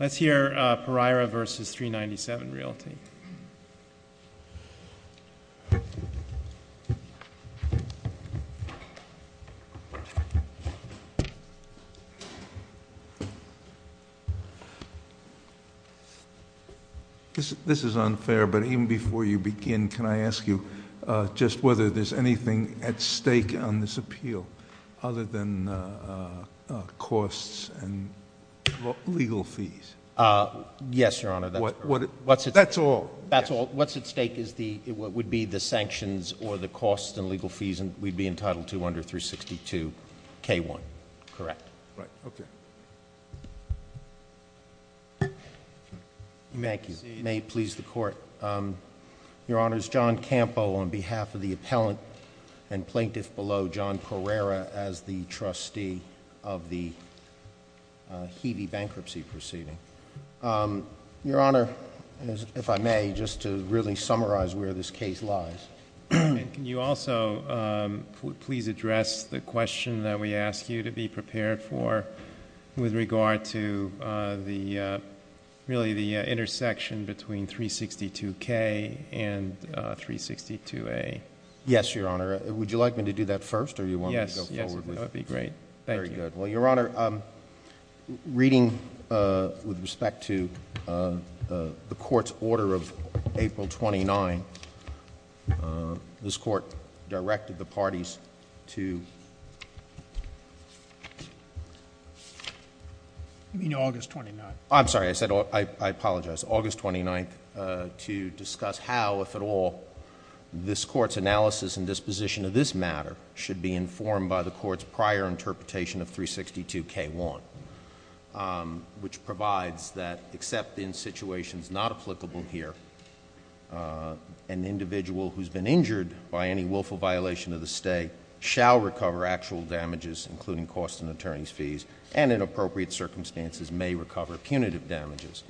Let's hear Pereira versus 397 Realty. This is unfair, but even before you begin, can I ask you just whether there's anything at stake on this appeal other than costs and legal fees? Yes, Your Honor, that's correct. That's all? That's all. What's at stake would be the sanctions or the costs and legal fees, and we'd be entitled to under 362K1, correct. Right, okay. Thank you. May it please the Court. Your Honor, it's John Campo on behalf of the appellant and plaintiff below, John Pereira, as the trustee of the Heavey bankruptcy proceeding. Your Honor, if I may, just to really summarize where this case lies. Can you also please address the question that we ask you to be prepared for with regard to really the intersection between 362K and 362A? Yes, Your Honor. Would you like me to do that first, or do you want me to go forward with it? Yes, that would be great. Thank you. Very good. Well, Your Honor, reading with respect to the Court's order of April 29, this Court directed the parties to... You mean August 29. I'm sorry. I said... I apologize. August 29 to discuss how, if at all, this Court's analysis and disposition of this matter should be informed by the Court's prior interpretation of 362K1, which provides that, except in situations not applicable here, an individual who's been injured by any willful violation of the stay shall recover actual damages, including costs and attorney's fees, and, in appropriate circumstances, may recover punitive damages.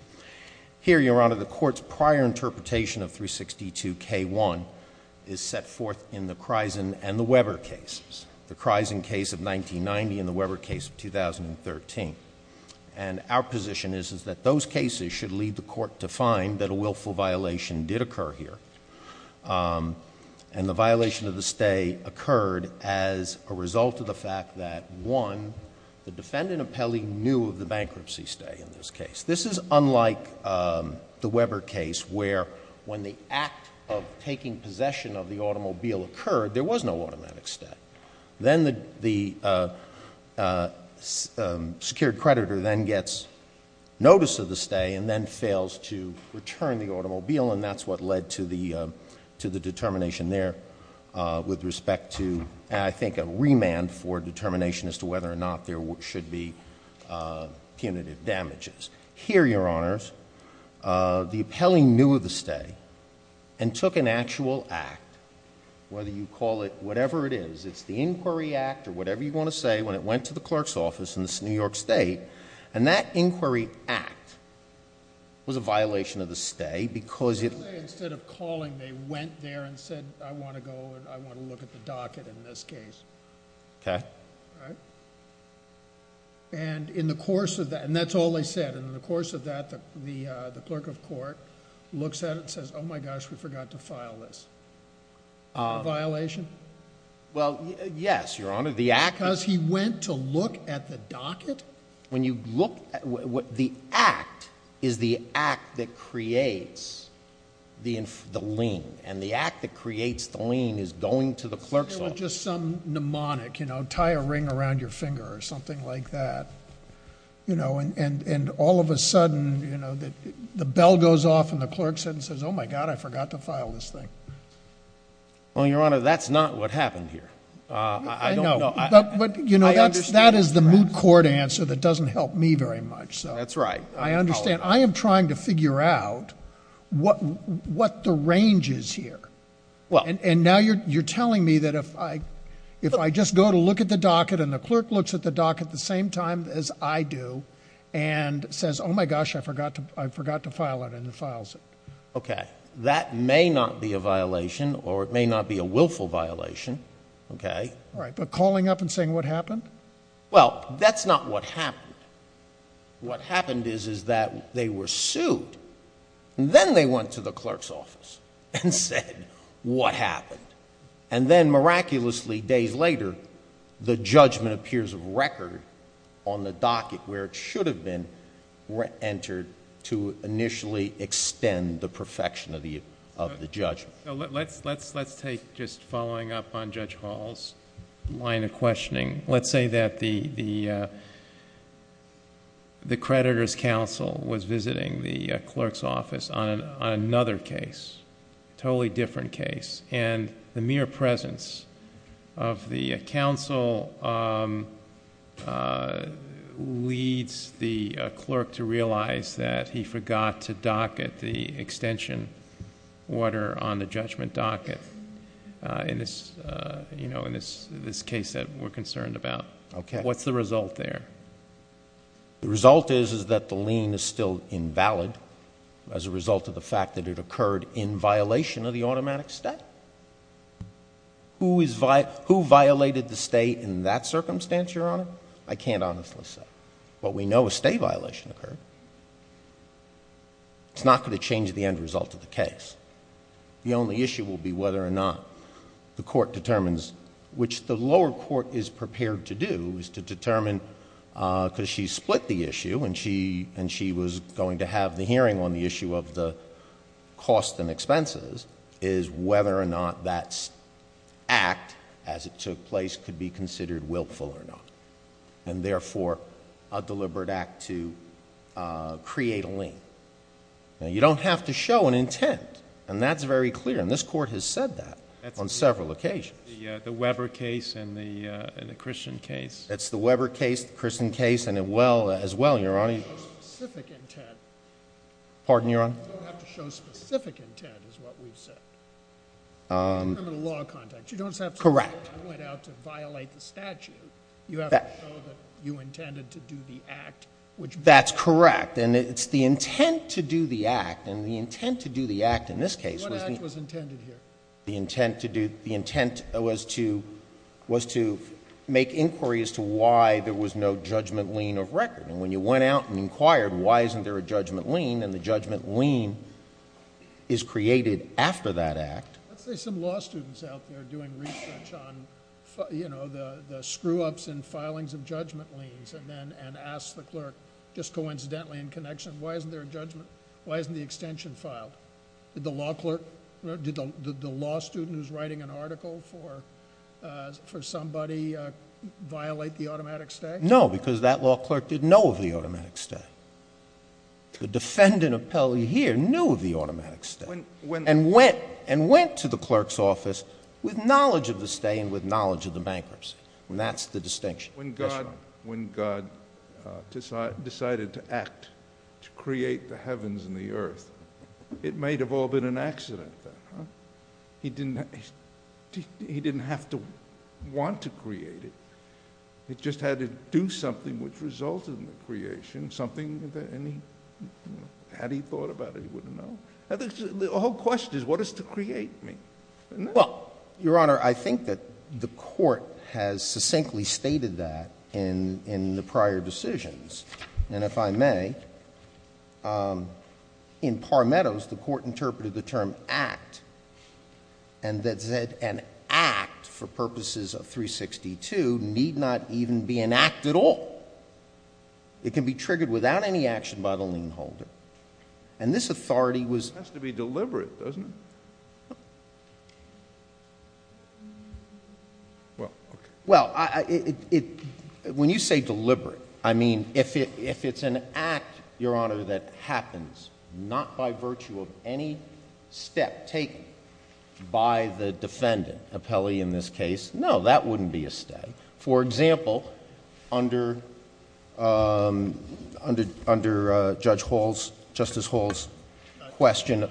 Here, Your Honor, the Court's prior interpretation of 362K1 is set forth in the Crisen and the Weber cases, the Crisen case of 1990 and the Weber case of 2013. And our position is that those cases should lead the Court to find that a willful violation did occur here, and the violation of the stay occurred as a result of the fact that, one, the defendant appellee knew of the bankruptcy stay in this case. This is unlike the Weber case where, when the act of taking possession of the automobile occurred, there was no automatic stay. Then the secured creditor then gets notice of the stay and then fails to return the automobile, and that's what led to the determination there with respect to, I think, a remand for determination as to whether or not there should be punitive damages. Here, Your Honors, the appellee knew of the stay and took an actual act, whether you call it whatever it is, it's the Inquiry Act or whatever you want to say, when it went to the clerk's office in New York State, and that Inquiry Act was a violation of the stay because it... I want to go and I want to look at the docket in this case. Okay. And in the course of that, and that's all they said, and in the course of that the clerk of court looks at it and says, oh my gosh, we forgot to file this. A violation? Well, yes, Your Honor, the act... Because he went to look at the docket? The act is the act that creates the lien, and the act that creates the lien is going to the clerk's office. Say there was just some mnemonic, you know, tie a ring around your finger or something like that, you know, and all of a sudden, you know, the bell goes off and the clerk says, oh my God, I forgot to file this thing. Well, Your Honor, that's not what happened here. I don't know. But, you know, that is the moot court answer that doesn't help me very much. That's right. I understand. I am trying to figure out what the range is here. And now you're telling me that if I just go to look at the docket and the clerk looks at the docket at the same time as I do and says, oh my gosh, I forgot to file it and files it. Okay. That may not be a violation or it may not be a willful violation, okay? All right. But calling up and saying what happened? Well, that's not what happened. What happened is is that they were sued, and then they went to the clerk's office and said what happened. And then miraculously days later, the judgment appears of record on the docket where it should have been entered to initially extend the perfection of the judgment. Let's take just following up on Judge Hall's line of questioning. Let's say that the creditor's counsel was visiting the clerk's office on another case, totally different case, and the mere presence of the counsel leads the clerk to realize that he was not there. And so that's the case that we're concerned about. Okay. What's the result there? The result is is that the lien is still invalid as a result of the fact that it occurred in violation of the automatic state. Who violated the state in that circumstance, Your Honor? I can't honestly say. But we know a state violation occurred. It's not going to change the end result of the case. The only issue will be whether or not the court determines, which the lower court is prepared to do, is to determine because she split the issue and she was going to have the hearing on the issue of the cost and expenses, is whether or not that act as it took place could be considered willful or not. And therefore, a deliberate act to create a lien. Now, you don't have to show an intent. And that's very clear. And this court has said that on several occasions. The Weber case and the Christian case. That's the Weber case, the Christian case, and as well, Your Honor. You don't have to show specific intent. Pardon, Your Honor? You don't have to show specific intent is what we've said. In the law context. Correct. You don't have to say I went out to violate the statute. You have to show that you intended to do the act. That's correct. And it's the intent to do the act, and the intent to do the act in this case. What act was intended here? The intent was to make inquiry as to why there was no judgment lien of record. And when you went out and inquired why isn't there a judgment lien, and the judgment lien is created after that act. Let's say some law students out there doing research on, you know, the screw-ups and filings of judgment liens. And ask the clerk, just coincidentally in connection, why isn't there a judgment, why isn't the extension filed? Did the law clerk, did the law student who's writing an article for somebody violate the automatic stay? No, because that law clerk didn't know of the automatic stay. The defendant appellee here knew of the automatic stay. And went to the clerk's office with knowledge of the stay and with knowledge of the bankruptcy. And that's the distinction. When God decided to act to create the heavens and the earth, it may have all been an accident then. He didn't have to want to create it. He just had to do something which resulted in the creation, something that had he thought about it, he wouldn't know. The whole question is, what is to create me? Well, Your Honor, I think that the court has succinctly stated that in the prior decisions. And if I may, in Parmetos, the court interpreted the term act and that said an act for purposes of 362 need not even be an act at all. It can be triggered without any action by the lien holder. And this authority was... It has to be deliberate, doesn't it? Well, when you say deliberate, I mean, if it's an act, Your Honor, that happens not by virtue of any step taken by the defendant appellee in this case, no, that wouldn't be a stay. For example, under Judge Hall's, Justice Hall's question...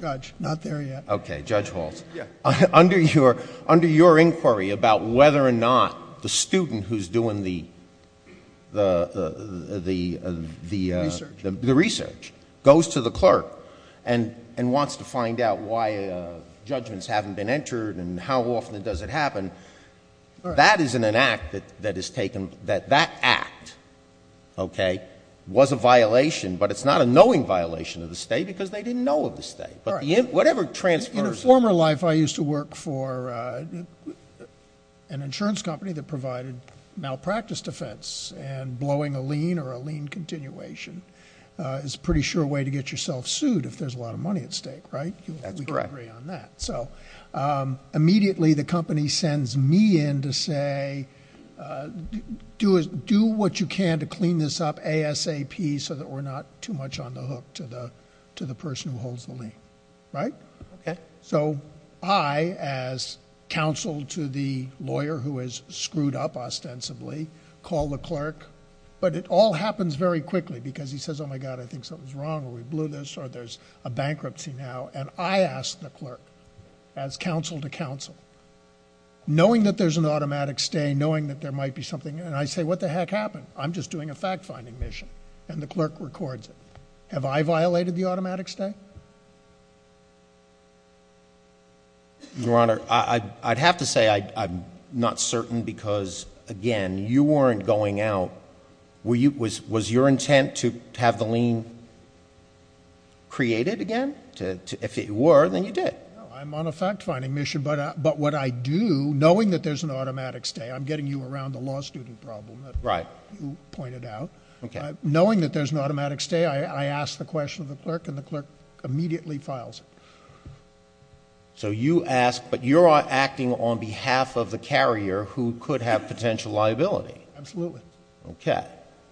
Judge, not there yet. Okay, Judge Hall's. Yeah. Under your inquiry about whether or not the student who's doing the... Research. The research goes to the clerk and wants to find out why judgments haven't been entered and how often does it happen. That isn't an act that is taken... That act, okay, was a violation, but it's not a knowing violation of the stay because they didn't know of the stay. But whatever transfers... In a former life, I used to work for an insurance company that provided malpractice defense and blowing a lien or a lien continuation is a pretty sure way to get yourself sued if there's a lot of money at stake, right? That's correct. I agree on that. Immediately the company sends me in to say, do what you can to clean this up ASAP so that we're not too much on the hook to the person who holds the lien, right? Okay. So I, as counsel to the lawyer who has screwed up ostensibly, call the clerk, but it all happens very quickly because he says, oh my God, I think something's wrong or we blew this or there's a bankruptcy now. And I ask the clerk, as counsel to counsel, knowing that there's an automatic stay, knowing that there might be something... And I say, what the heck happened? I'm just doing a fact-finding mission. And the clerk records it. Have I violated the automatic stay? Your Honor, I'd have to say I'm not certain because, again, you weren't going out. Was your intent to have the lien created again? If it were, then you did. I'm on a fact-finding mission, but what I do, knowing that there's an automatic stay... I'm getting you around the law student problem that you pointed out. Knowing that there's an automatic stay, I ask the question of the clerk, and the clerk immediately files it. So you ask, but you're acting on behalf of the carrier who could have potential liability. Absolutely. Okay.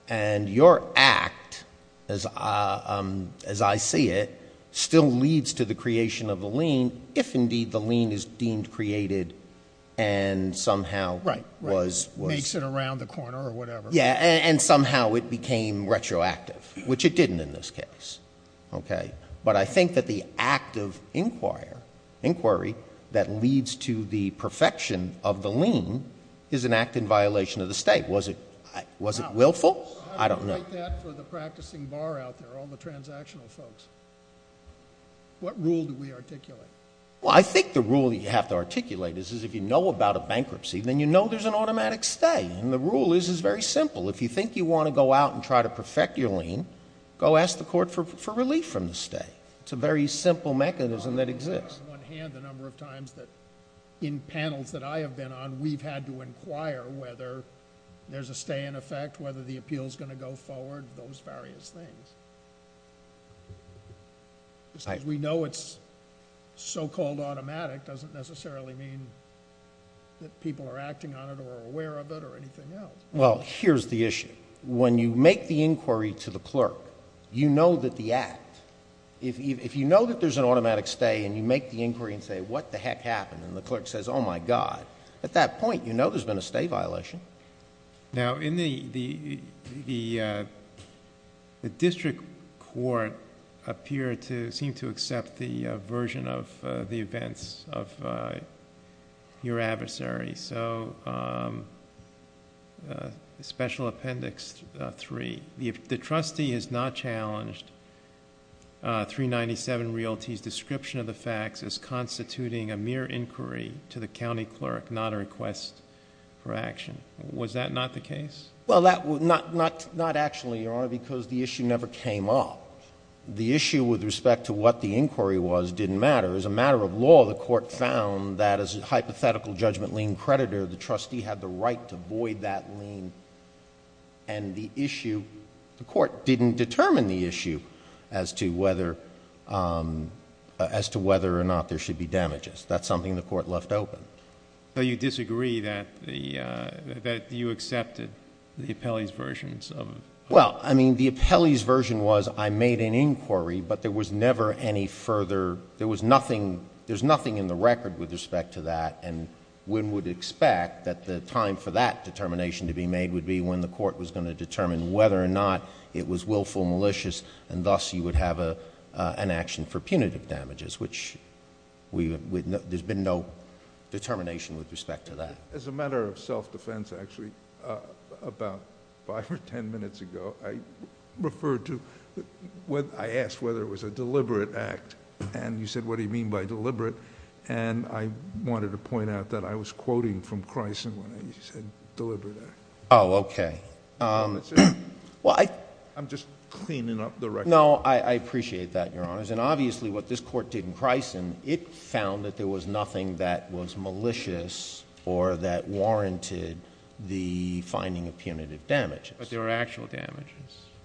And your act, as I see it, still leads to the creation of the lien, if indeed the lien is deemed created and somehow was... Right. Makes it around the corner or whatever. Yeah. And somehow it became retroactive, which it didn't in this case. Okay. But I think that the act of inquiry that leads to the perfection of the stay, was it willful? I don't know. I would take that for the practicing bar out there, all the transactional folks. What rule do we articulate? Well, I think the rule that you have to articulate is if you know about a bankruptcy, then you know there's an automatic stay. And the rule is, it's very simple. If you think you want to go out and try to perfect your lien, go ask the court for relief from the stay. It's a very simple mechanism that exists. On the one hand, the number of times that in panels that I have been on, we've had to inquire whether there's a stay in effect, whether the appeal is going to go forward, those various things. We know it's so-called automatic. It doesn't necessarily mean that people are acting on it or aware of it or anything else. Well, here's the issue. When you make the inquiry to the clerk, you know that the act... If you know that there's an automatic stay and you make the inquiry and say, what the heck happened? And the clerk says, oh my God. At that point, you know there's been a stay violation. Now, the district court appear to seem to accept the version of the events of your adversary, so Special Appendix 3. If the trustee has not challenged 397 Realty's description of the facts as constituting a mere inquiry to the county clerk, not a request for action, was that not the case? Well, not actually, Your Honor, because the issue never came up. The issue with respect to what the inquiry was didn't matter. As a matter of law, the court found that as a hypothetical judgment lien creditor, the trustee had the right to void that lien, and the issue... That's something the court left open. So you disagree that you accepted the appellee's versions of... Well, I mean, the appellee's version was, I made an inquiry, but there was never any further... there was nothing... there's nothing in the record with respect to that, and one would expect that the time for that determination to be made would be when the court was going to determine whether or not it was willful or malicious, and thus you would have an action for punitive damages, which there's been no determination with respect to that. As a matter of self-defense, actually, about five or ten minutes ago, I referred to... I asked whether it was a deliberate act, and you said, what do you mean by deliberate? And I wanted to point out that I was quoting from Cricen when you said deliberate act. Oh, okay. Well, I... I'm just cleaning up the record. No, I appreciate that, Your Honors, and obviously what this court did in Cricen, it found that there was nothing that was malicious or that warranted the finding of punitive damages. But there are actual damages.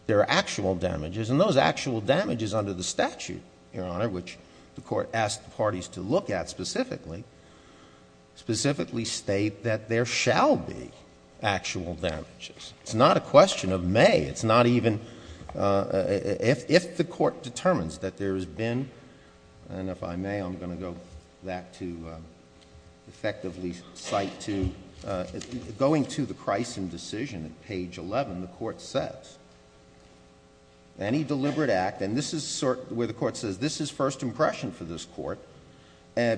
There are actual damages, and those actual damages under the statute, Your Honor, which the court asked the parties to look at specifically, specifically state that there shall be actual damages. It's not a question of may. It's not even... if the court determines that there has been... and if I may, I'm going to go back to effectively cite to... going to the Cricen decision at page 11, the court says, any deliberate act, and this is where the court says this is first impression for this court,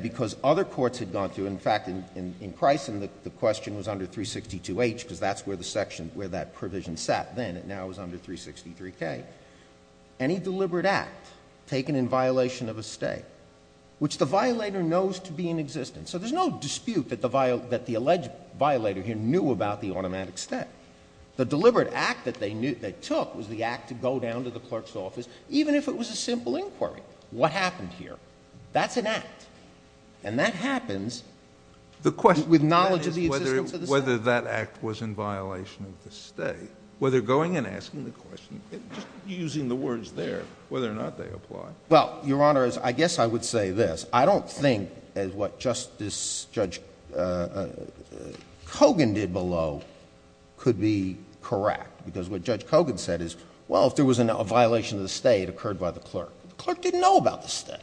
because other courts had gone through. In fact, in Cricen, the question was under 362H because that's where the section, where that provision sat then. It now is under 363K. Any deliberate act taken in violation of a stay, which the violator knows to be in existence. So there's no dispute that the alleged violator here knew about the automatic stay. The deliberate act that they took was the act to go down to the clerk's office even if it was a simple inquiry. What happened here? That's an act, and that happens with knowledge of the existence of the stay. The question is whether that act was in violation of the stay. Whether going and asking the question, just using the words there, whether or not they apply. Well, Your Honor, I guess I would say this. I don't think what Justice Judge Kogan did below could be correct, because what Judge Kogan said is, well, if there was a violation of the stay, it occurred by the clerk. The clerk didn't know about the stay.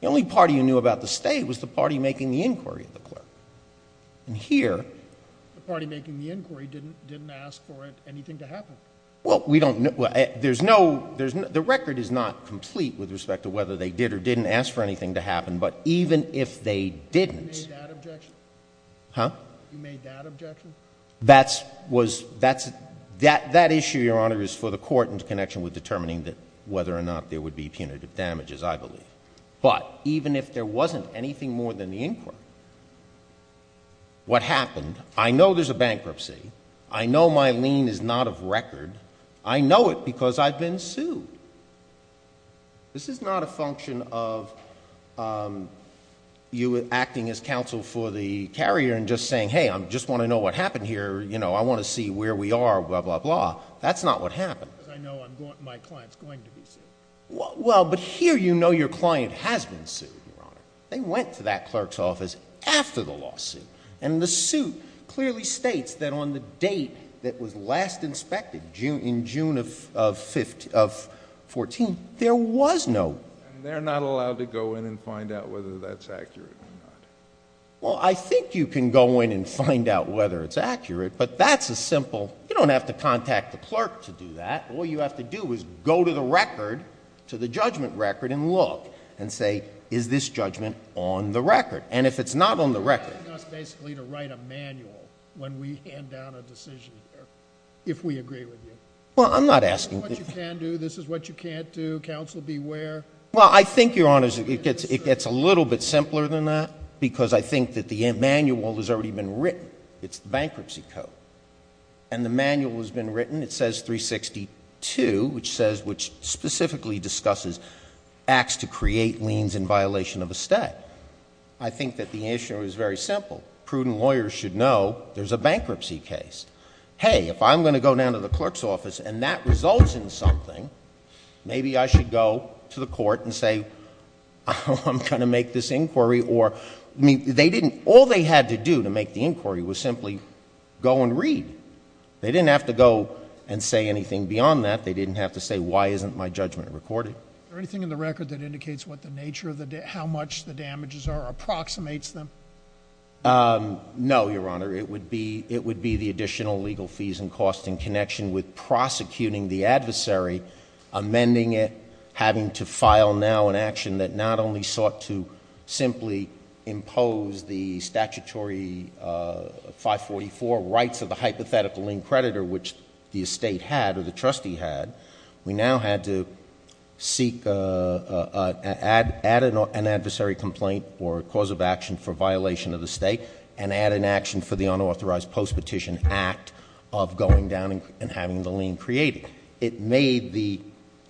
The only party who knew about the stay was the party making the inquiry of the clerk. And here. The party making the inquiry didn't ask for anything to happen. Well, we don't know. There's no, the record is not complete with respect to whether they did or didn't ask for anything to happen, but even if they didn't. You made that objection? Huh? You made that objection? That issue, Your Honor, is for the court in connection with determining whether or not there would be punitive damages, I believe. But even if there wasn't anything more than the inquiry, what happened, I know there's a bankruptcy. I know my lien is not of record. I know it because I've been sued. This is not a function of you acting as counsel for the carrier and just saying, hey, I just want to know what happened here. You know, I want to see where we are, blah, blah, blah. That's not what happened. Because I know my client is going to be sued. Well, but here you know your client has been sued, Your Honor. They went to that clerk's office after the lawsuit. And the suit clearly states that on the date that was last inspected, in June of 14, there was no. And they're not allowed to go in and find out whether that's accurate or not. Well, I think you can go in and find out whether it's accurate, but that's as simple. You don't have to contact the clerk to do that. All you have to do is go to the record, to the judgment record, and look and say, is this judgment on the record? And if it's not on the record. You're asking us basically to write a manual when we hand down a decision here, if we agree with you. Well, I'm not asking. This is what you can do. This is what you can't do. Counsel, beware. Well, I think, Your Honor, it gets a little bit simpler than that because I think that the manual has already been written. It's the bankruptcy code. And the manual has been written. It says 362, which says, which specifically discusses acts to create liens in violation of a stay. I think that the issue is very simple. Prudent lawyers should know there's a bankruptcy case. Hey, if I'm going to go down to the clerk's office and that results in something, maybe I should go to the court and say, I'm going to make this inquiry or, I mean, they didn't, all they had to do to make the inquiry was simply go and read. They didn't have to go and say anything beyond that. They didn't have to say, why isn't my judgment recorded? Is there anything in the record that indicates what the nature of the damage, how much the damages are or approximates them? No, Your Honor. It would be the additional legal fees and costs in connection with prosecuting the adversary, amending it, having to file now an action that not only sought to simply impose the statutory 544 rights of the hypothetical lien creditor, which the estate had or the trustee had. We now had to seek, add an adversary complaint or cause of action for violation of the state and add an action for the unauthorized post-petition act of going down and having the lien created. It made the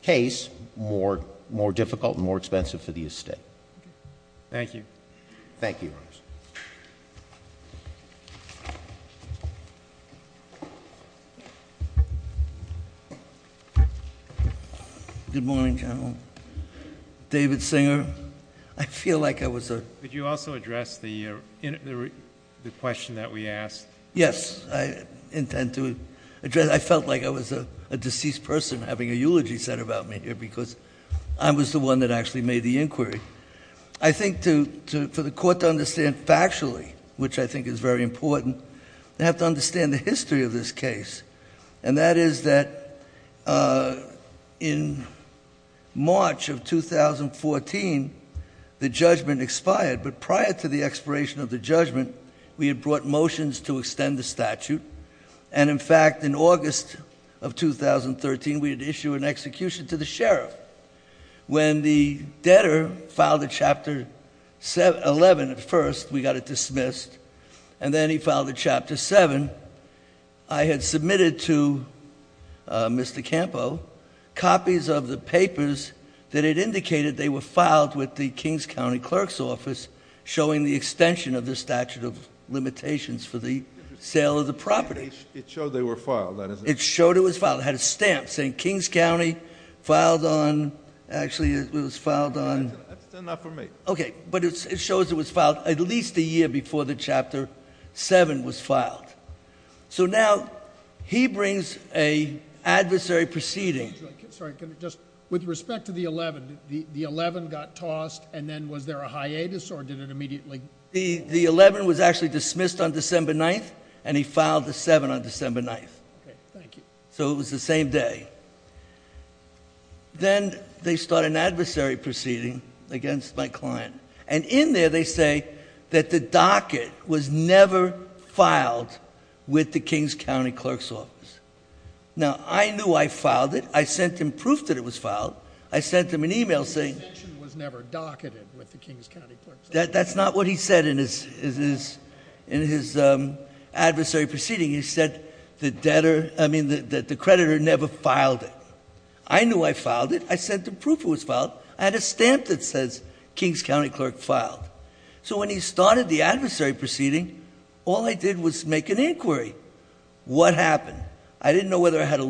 case more difficult and more expensive for the estate. Thank you. Thank you. Good morning, General. David Singer. I feel like I was a... Could you also address the question that we asked? Yes. I intend to address... I felt like I was a deceased person having a eulogy said about me here because I was the one that actually made the inquiry. I think for the court to understand factually, which I think is very important, they have to understand the history of this case. And that is that in March of 2014, the judgment expired. But prior to the expiration of the judgment, we had brought motions to the statute. And in fact, in August of 2013, we had issued an execution to the sheriff. When the debtor filed a Chapter 11 at first, we got it dismissed. And then he filed a Chapter 7. I had submitted to Mr. Campo copies of the papers that had indicated they were filed with the Kings County Clerk's Office showing the extension of the statute of limitations for the sale of the property. It showed they were filed. It showed it was filed. It had a stamp saying Kings County filed on... Actually, it was filed on... That's enough for me. Okay. But it shows it was filed at least a year before the Chapter 7 was filed. So now he brings an adversary proceeding. Sorry. With respect to the 11, the 11 got tossed, and then was there a hiatus or did it immediately... The 11 was actually dismissed on December 9th, and he filed the 7 on December 9th. Okay. Thank you. So it was the same day. Then they start an adversary proceeding against my client. And in there they say that the docket was never filed with the Kings County Clerk's Office. Now, I knew I filed it. I sent him proof that it was filed. I sent him an email saying... The extension was never docketed with the Kings County Clerk's Office. That's not what he said in his adversary proceeding. He said that the creditor never filed it. I knew I filed it. I sent him proof it was filed. I had a stamp that says Kings County Clerk filed. So when he started the adversary proceeding, all I did was make an inquiry. What happened? I didn't know whether I had a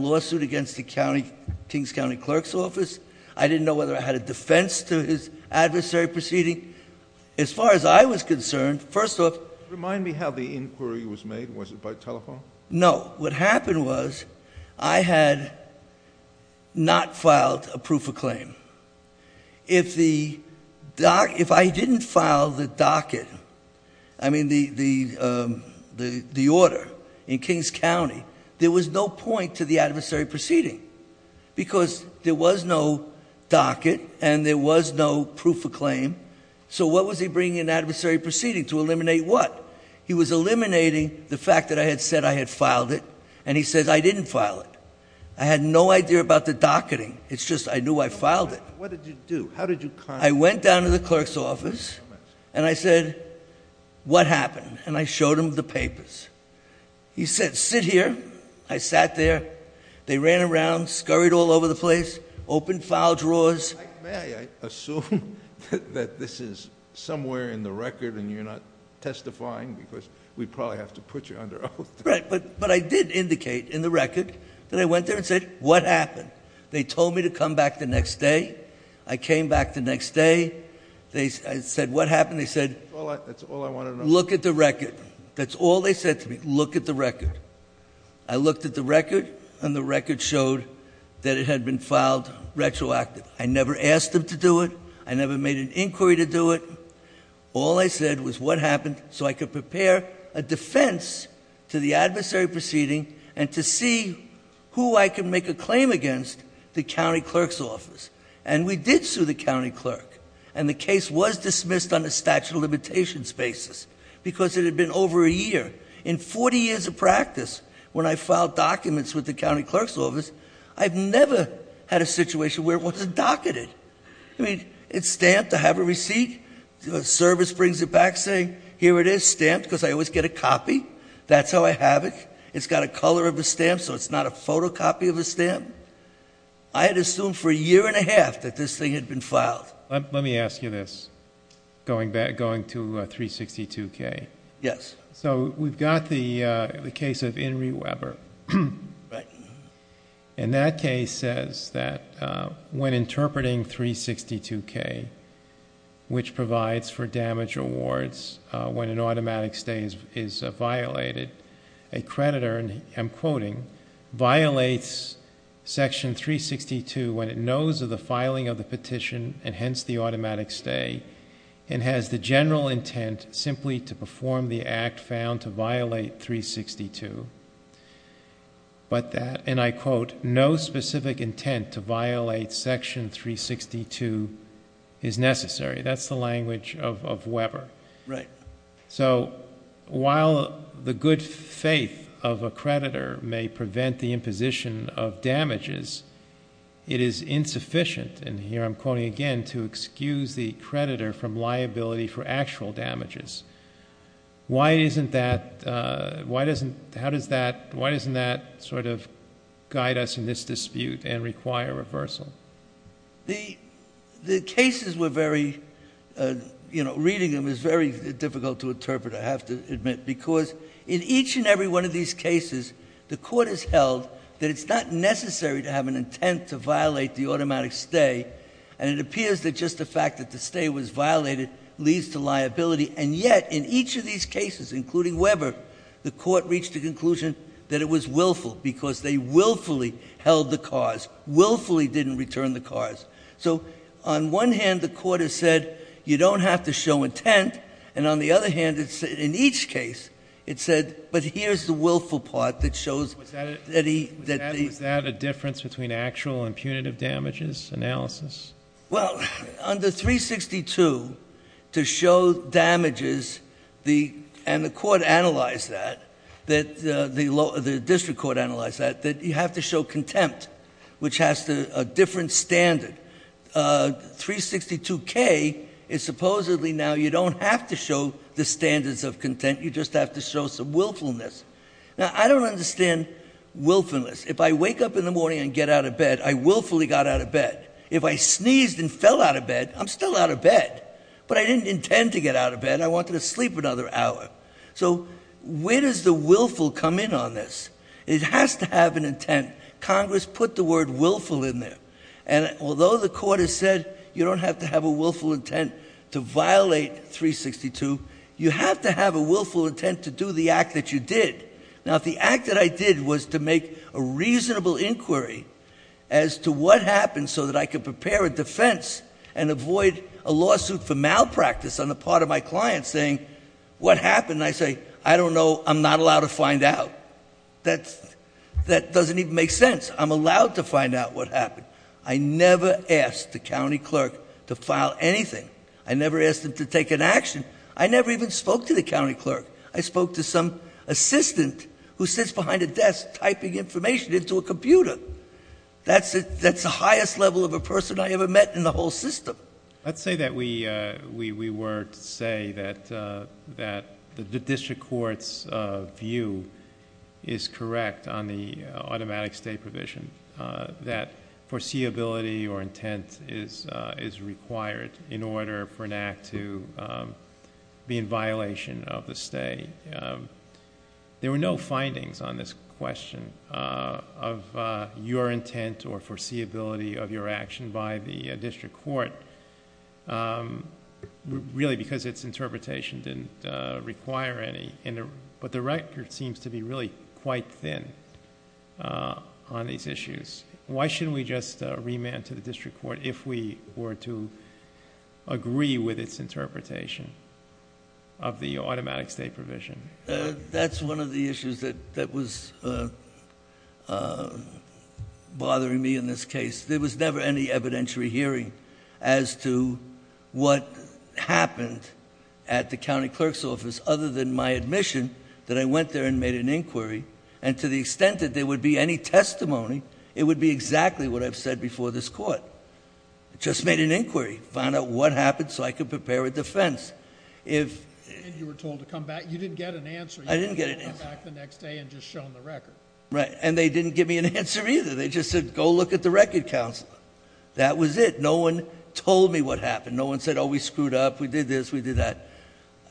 defense to his adversary proceeding. As far as I was concerned, first off... Remind me how the inquiry was made. Was it by telephone? No. What happened was I had not filed a proof of claim. If I didn't file the docket, I mean the order in Kings County, there was no point to the adversary proceeding because there was no docket and there was no proof of claim. So what was he bringing in the adversary proceeding? To eliminate what? He was eliminating the fact that I had said I had filed it. And he says I didn't file it. I had no idea about the docketing. It's just I knew I filed it. What did you do? How did you contact him? I went down to the clerk's office and I said, What happened? And I showed him the papers. He said, Sit here. I sat there. They ran around, scurried all over the place, opened file drawers. May I assume that this is somewhere in the record and you're not testifying because we'd probably have to put you under oath. Right. But I did indicate in the record that I went there and said, What happened? They told me to come back the next day. I came back the next day. I said, What happened? They said... That's all I want to know. Look at the record. That's all they said to me. Look at the record. I looked at the record and the record showed that it had been filed retroactively. I never asked them to do it. I never made an inquiry to do it. All I said was, What happened? So I could prepare a defense to the adversary proceeding and to see who I could make a claim against the county clerk's office. And we did sue the county clerk. And the case was dismissed on a statute of limitations basis because it had been over a year. In 40 years of practice, when I filed documents with the county clerk's office, I've never had a situation where it wasn't docketed. I mean, it's stamped. I have a receipt. The service brings it back saying, Here it is, stamped, because I always get a copy. That's how I have it. It's got a color of a stamp, so it's not a photocopy of a stamp. I had assumed for a year and a half that this thing had been filed. Let me ask you this, going to 362K. Yes. So we've got the case of Enri Weber. Right. And that case says that when interpreting 362K, which provides for damage awards when an automatic stay is violated, a creditor, and I'm quoting, violates Section 362 when it knows of the filing of the petition and hence the automatic stay and has the general intent simply to perform the act found to violate 362, but that, and I quote, no specific intent to violate Section 362 is necessary. That's the language of Weber. Right. So while the good faith of a creditor may prevent the imposition of damages, it is insufficient, and here I'm quoting again, to excuse the creditor from liability for actual damages. Why isn't that, why doesn't, how does that, why doesn't that sort of guide us in this dispute and require reversal? The cases were very, you know, reading them is very difficult to interpret, I have to admit, because in each and every one of these cases, the court has held that it's not necessary to have an intent to violate the automatic stay, and it appears that just the fact that the stay was violated leads to liability, and yet in each of these cases, including Weber, the court reached the conclusion that it was willful because they willfully held the cause, willfully didn't return the cause. So on one hand, the court has said, you don't have to show intent, and on the other hand, in each case, it said, but here's the willful part that shows that he. Was that a difference between actual and punitive damages analysis? Well, under 362, to show damages, and the court analyzed that, the district court analyzed that, that you have to show contempt, which has a different standard. 362K is supposedly now you don't have to show the standards of contempt, you just have to show some willfulness. Now, I don't understand willfulness. If I wake up in the morning and get out of bed, I willfully got out of bed. If I sneezed and fell out of bed, I'm still out of bed. But I didn't intend to get out of bed. I wanted to sleep another hour. So where does the willful come in on this? It has to have an intent. Congress put the word willful in there, and although the court has said you don't have to have a willful intent to violate 362, you have to have a willful intent to do the act that you did. Now, if the act that I did was to make a reasonable inquiry as to what happened so that I could prepare a defense and avoid a lawsuit for malpractice on the part of my client saying, what happened, and I say, I don't know, I'm not allowed to find out. That doesn't even make sense. I'm allowed to find out what happened. I never asked the county clerk to file anything. I never asked him to take an action. I never even spoke to the county clerk. I spoke to some assistant who sits behind a desk typing information into a computer. That's the highest level of a person I ever met in the whole system. Let's say that we were to say that the district court's view is correct on the automatic stay provision, that foreseeability or intent is required in order for an act to be in violation of the stay. There were no findings on this question of your intent or foreseeability of your action by the district court, really because its interpretation didn't require any, but the record seems to be really quite thin on these issues. Why shouldn't we just remand to the district court if we were to agree with its interpretation of the automatic stay provision? That's one of the issues that was bothering me in this case. There was never any evidentiary hearing as to what happened at the county clerk's office, other than my admission that I went there and made an inquiry. And to the extent that there would be any testimony, it would be exactly what I've said before this court. Just made an inquiry, found out what happened so I could prepare a defense. If- And you were told to come back. You didn't get an answer. I didn't get an answer. You didn't come back the next day and just shown the record. Right. And they didn't give me an answer either. They just said, go look at the record, counsel. That was it. No one told me what happened. No one said, oh, we screwed up. We did this. We did that.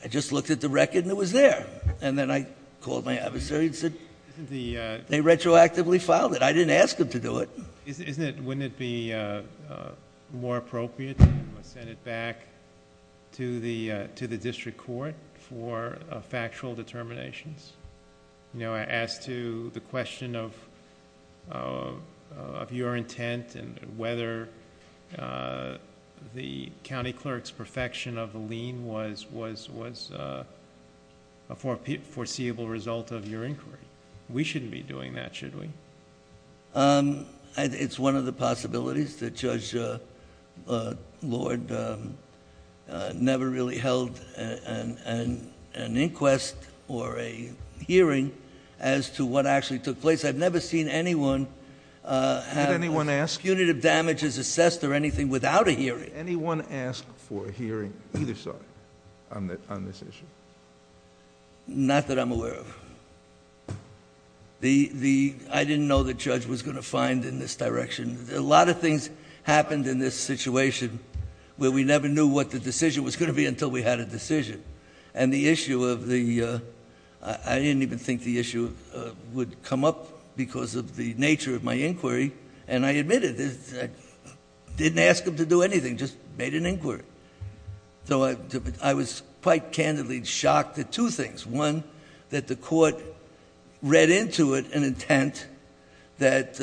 I just looked at the record and it was there. And then I called my adversary and said- Isn't the- They retroactively filed it. I didn't ask them to do it. Isn't it, wouldn't it be more appropriate to send it back to the district court for factual determinations? As to the question of your intent and whether the county clerk's perfection of the lien was a foreseeable result of your inquiry. We shouldn't be doing that, should we? It's one of the possibilities that Judge Lord never really held an inquest or a hearing as to what actually took place. I've never seen anyone have punitive damages assessed or anything without a hearing. Did anyone ask for a hearing either side on this issue? Not that I'm aware of. I didn't know the judge was going to find in this direction. A lot of things happened in this situation where we never knew what the decision was going to be until we had a decision. And the issue of the- I didn't even think the issue would come up because of the nature of my inquiry. And I admit it. I didn't ask him to do anything. Just made an inquiry. So I was quite candidly shocked at two things. One, that the court read into it an intent that-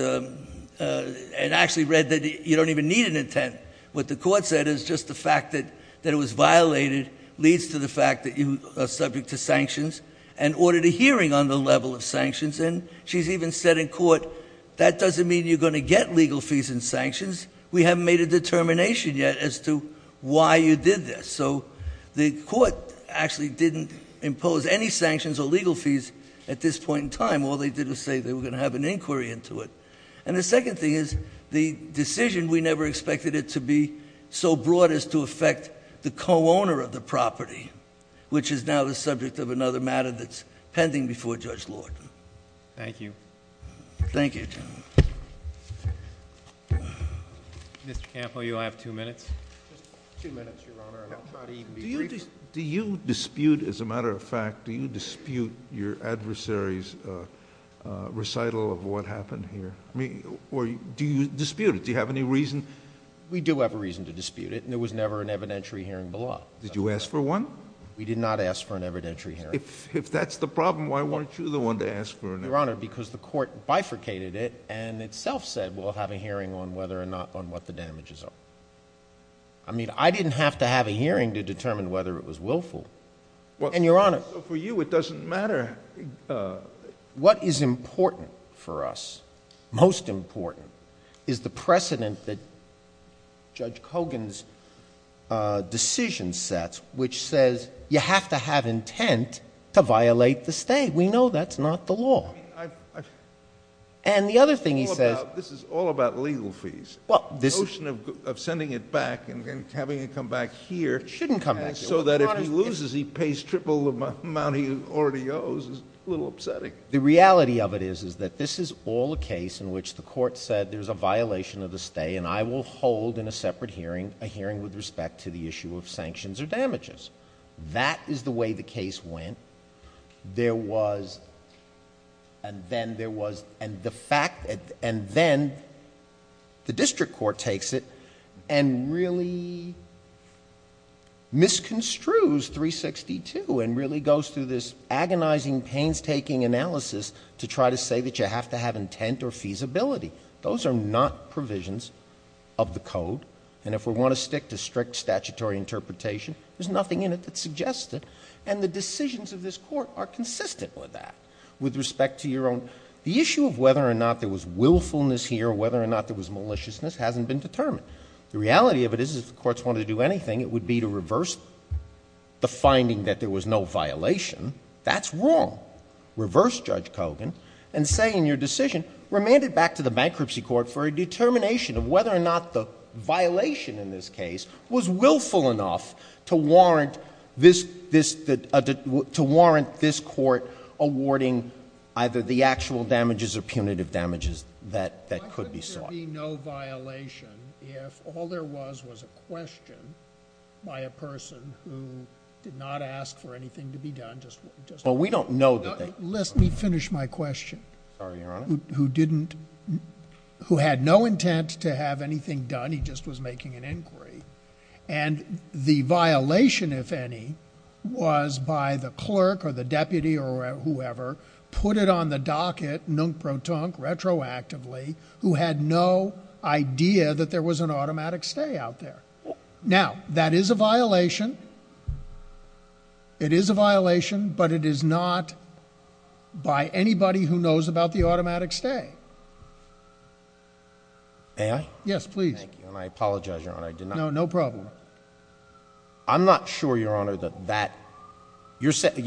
and actually read that you don't even need an intent. What the court said is just the fact that it was violated leads to the fact that you are subject to sanctions and ordered a hearing on the level of sanctions. And she's even said in court, that doesn't mean you're going to get legal fees and sanctions. We haven't made a determination yet as to why you did this. So the court actually didn't impose any sanctions or legal fees at this point in time. All they did was say they were going to have an inquiry into it. And the second thing is, the decision, we never expected it to be so broad as to affect the co-owner of the property, which is now the subject of another matter that's pending before Judge Lord. Thank you. Thank you. Mr. Campo, you have two minutes. Just two minutes, Your Honor, and I'll try to even be brief. Do you dispute, as a matter of fact, do you dispute your adversary's recital of what happened here? I mean, or do you dispute it? Do you have any reason? We do have a reason to dispute it, and there was never an evidentiary hearing below. Did you ask for one? We did not ask for an evidentiary hearing. If that's the problem, why weren't you the one to ask for an evidentiary hearing? Well, Your Honor, because the court bifurcated it and itself said we'll have a hearing on whether or not on what the damages are. I mean, I didn't have to have a hearing to determine whether it was willful. And, Your Honor, For you, it doesn't matter. What is important for us, most important, is the precedent that Judge Kogan's decision sets, which says you have to have intent to violate the state. We know that's not the law. And the other thing he says This is all about legal fees. The notion of sending it back and having it come back here It shouldn't come back here. So that if he loses, he pays triple the amount he already owes is a little upsetting. The reality of it is that this is all a case in which the court said there's a violation of the state, and I will hold in a separate hearing a hearing with respect to the issue of sanctions or damages. That is the way the case went. There was, and then there was, and the fact, and then the district court takes it and really misconstrues 362 and really goes through this agonizing, painstaking analysis to try to say that you have to have intent or feasibility. Those are not provisions of the code. And if we want to stick to strict statutory interpretation, there's nothing in it that suggests it. And the decisions of this court are consistent with that. With respect to your own, the issue of whether or not there was willfulness here, whether or not there was maliciousness hasn't been determined. The reality of it is if the courts wanted to do anything, it would be to reverse the finding that there was no violation. That's wrong. Reverse Judge Kogan and say in your decision, remand it back to the bankruptcy court for a determination of whether or not the violation in this case was willful enough to warrant this court awarding either the actual damages or punitive damages that could be sought. Why couldn't there be no violation if all there was was a question by a person who did not ask for anything to be done? Well, we don't know that they... Let me finish my question. Sorry, Your Honor. Who had no intent to have anything done. He just was making an inquiry. And the violation, if any, was by the clerk or the deputy or whoever, put it on the docket, nunk-pro-tunk, retroactively, who had no idea that there was an automatic stay out there. Now, that is a violation. It is a violation, but it is not by anybody who knows about the automatic stay. May I? Yes, please. Thank you, and I apologize, Your Honor, I did not... No, no problem. I'm not sure, Your Honor, that that...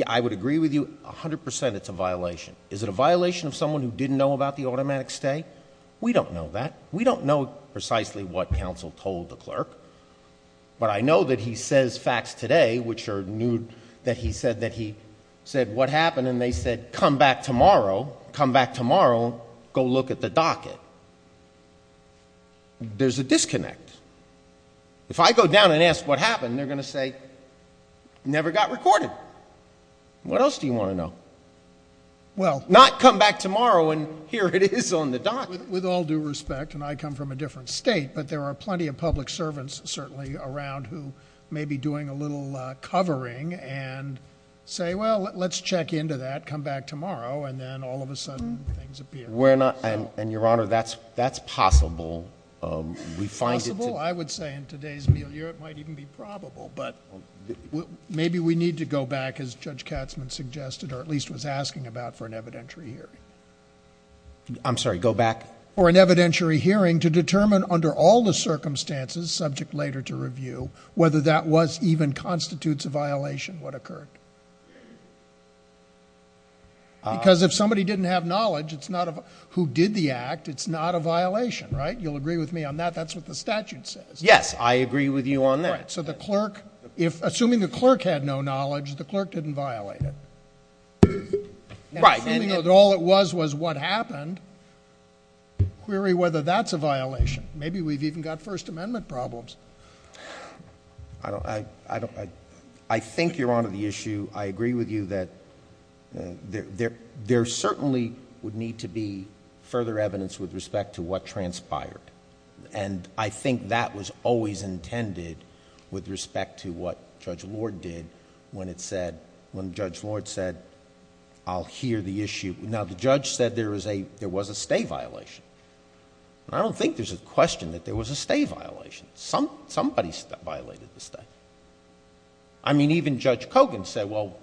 I would agree with you 100% it's a violation. Is it a violation of someone who didn't know about the automatic stay? We don't know that. We don't know precisely what counsel told the clerk. But I know that he says facts today, which are new, that he said that he said what happened, and they said, come back tomorrow, come back tomorrow, go look at the docket. There's a disconnect. If I go down and ask what happened, they're going to say, never got recorded. What else do you want to know? Well... Not come back tomorrow and here it is on the docket. With all due respect, and I come from a different state, but there are plenty of public servants, certainly, around who may be doing a little covering and say, well, let's check into that, come back tomorrow, and then all of a sudden things appear. We're not... And, Your Honor, that's possible. We find it... Possible? I would say in today's meal here it might even be probable, but maybe we need to go back, as Judge Katzman suggested, or at least was asking about, for an evidentiary hearing. I'm sorry, go back? For an evidentiary hearing to determine, under all the circumstances subject later to review, whether that even constitutes a violation, what occurred. Because if somebody didn't have knowledge who did the act, it's not a violation, right? You'll agree with me on that? That's what the statute says. Yes, I agree with you on that. Correct. So the clerk, assuming the clerk had no knowledge, the clerk didn't violate it. Right. Assuming that all it was was what happened, query whether that's a violation. Maybe we've even got First Amendment problems. I think, Your Honor, the issue, I agree with you, that there certainly would need to be further evidence with respect to what transpired. And I think that was always intended with respect to what Judge Lord did when Judge Lord said, I'll hear the issue. Now, the judge said there was a stay violation. I don't think there's a question that there was a stay violation. Somebody violated the stay. I mean, even Judge Kogan said, well...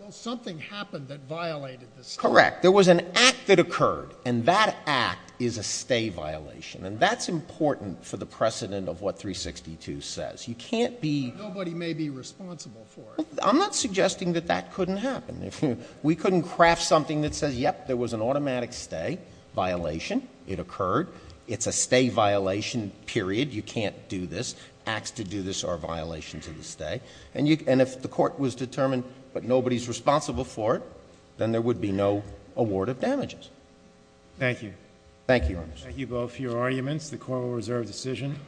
Well, something happened that violated the stay. Correct. There was an act that occurred, and that act is a stay violation. And that's important for the precedent of what 362 says. You can't be... I'm not suggesting that that couldn't happen. We couldn't craft something that says, yep, there was an automatic stay violation. It occurred. It's a stay violation, period. You can't do this. Acts to do this are violations of the stay. And if the court was determined that nobody's responsible for it, then there would be no award of damages. Thank you. Thank you, Your Honor. Thank you both for your arguments. The Court will reserve decision.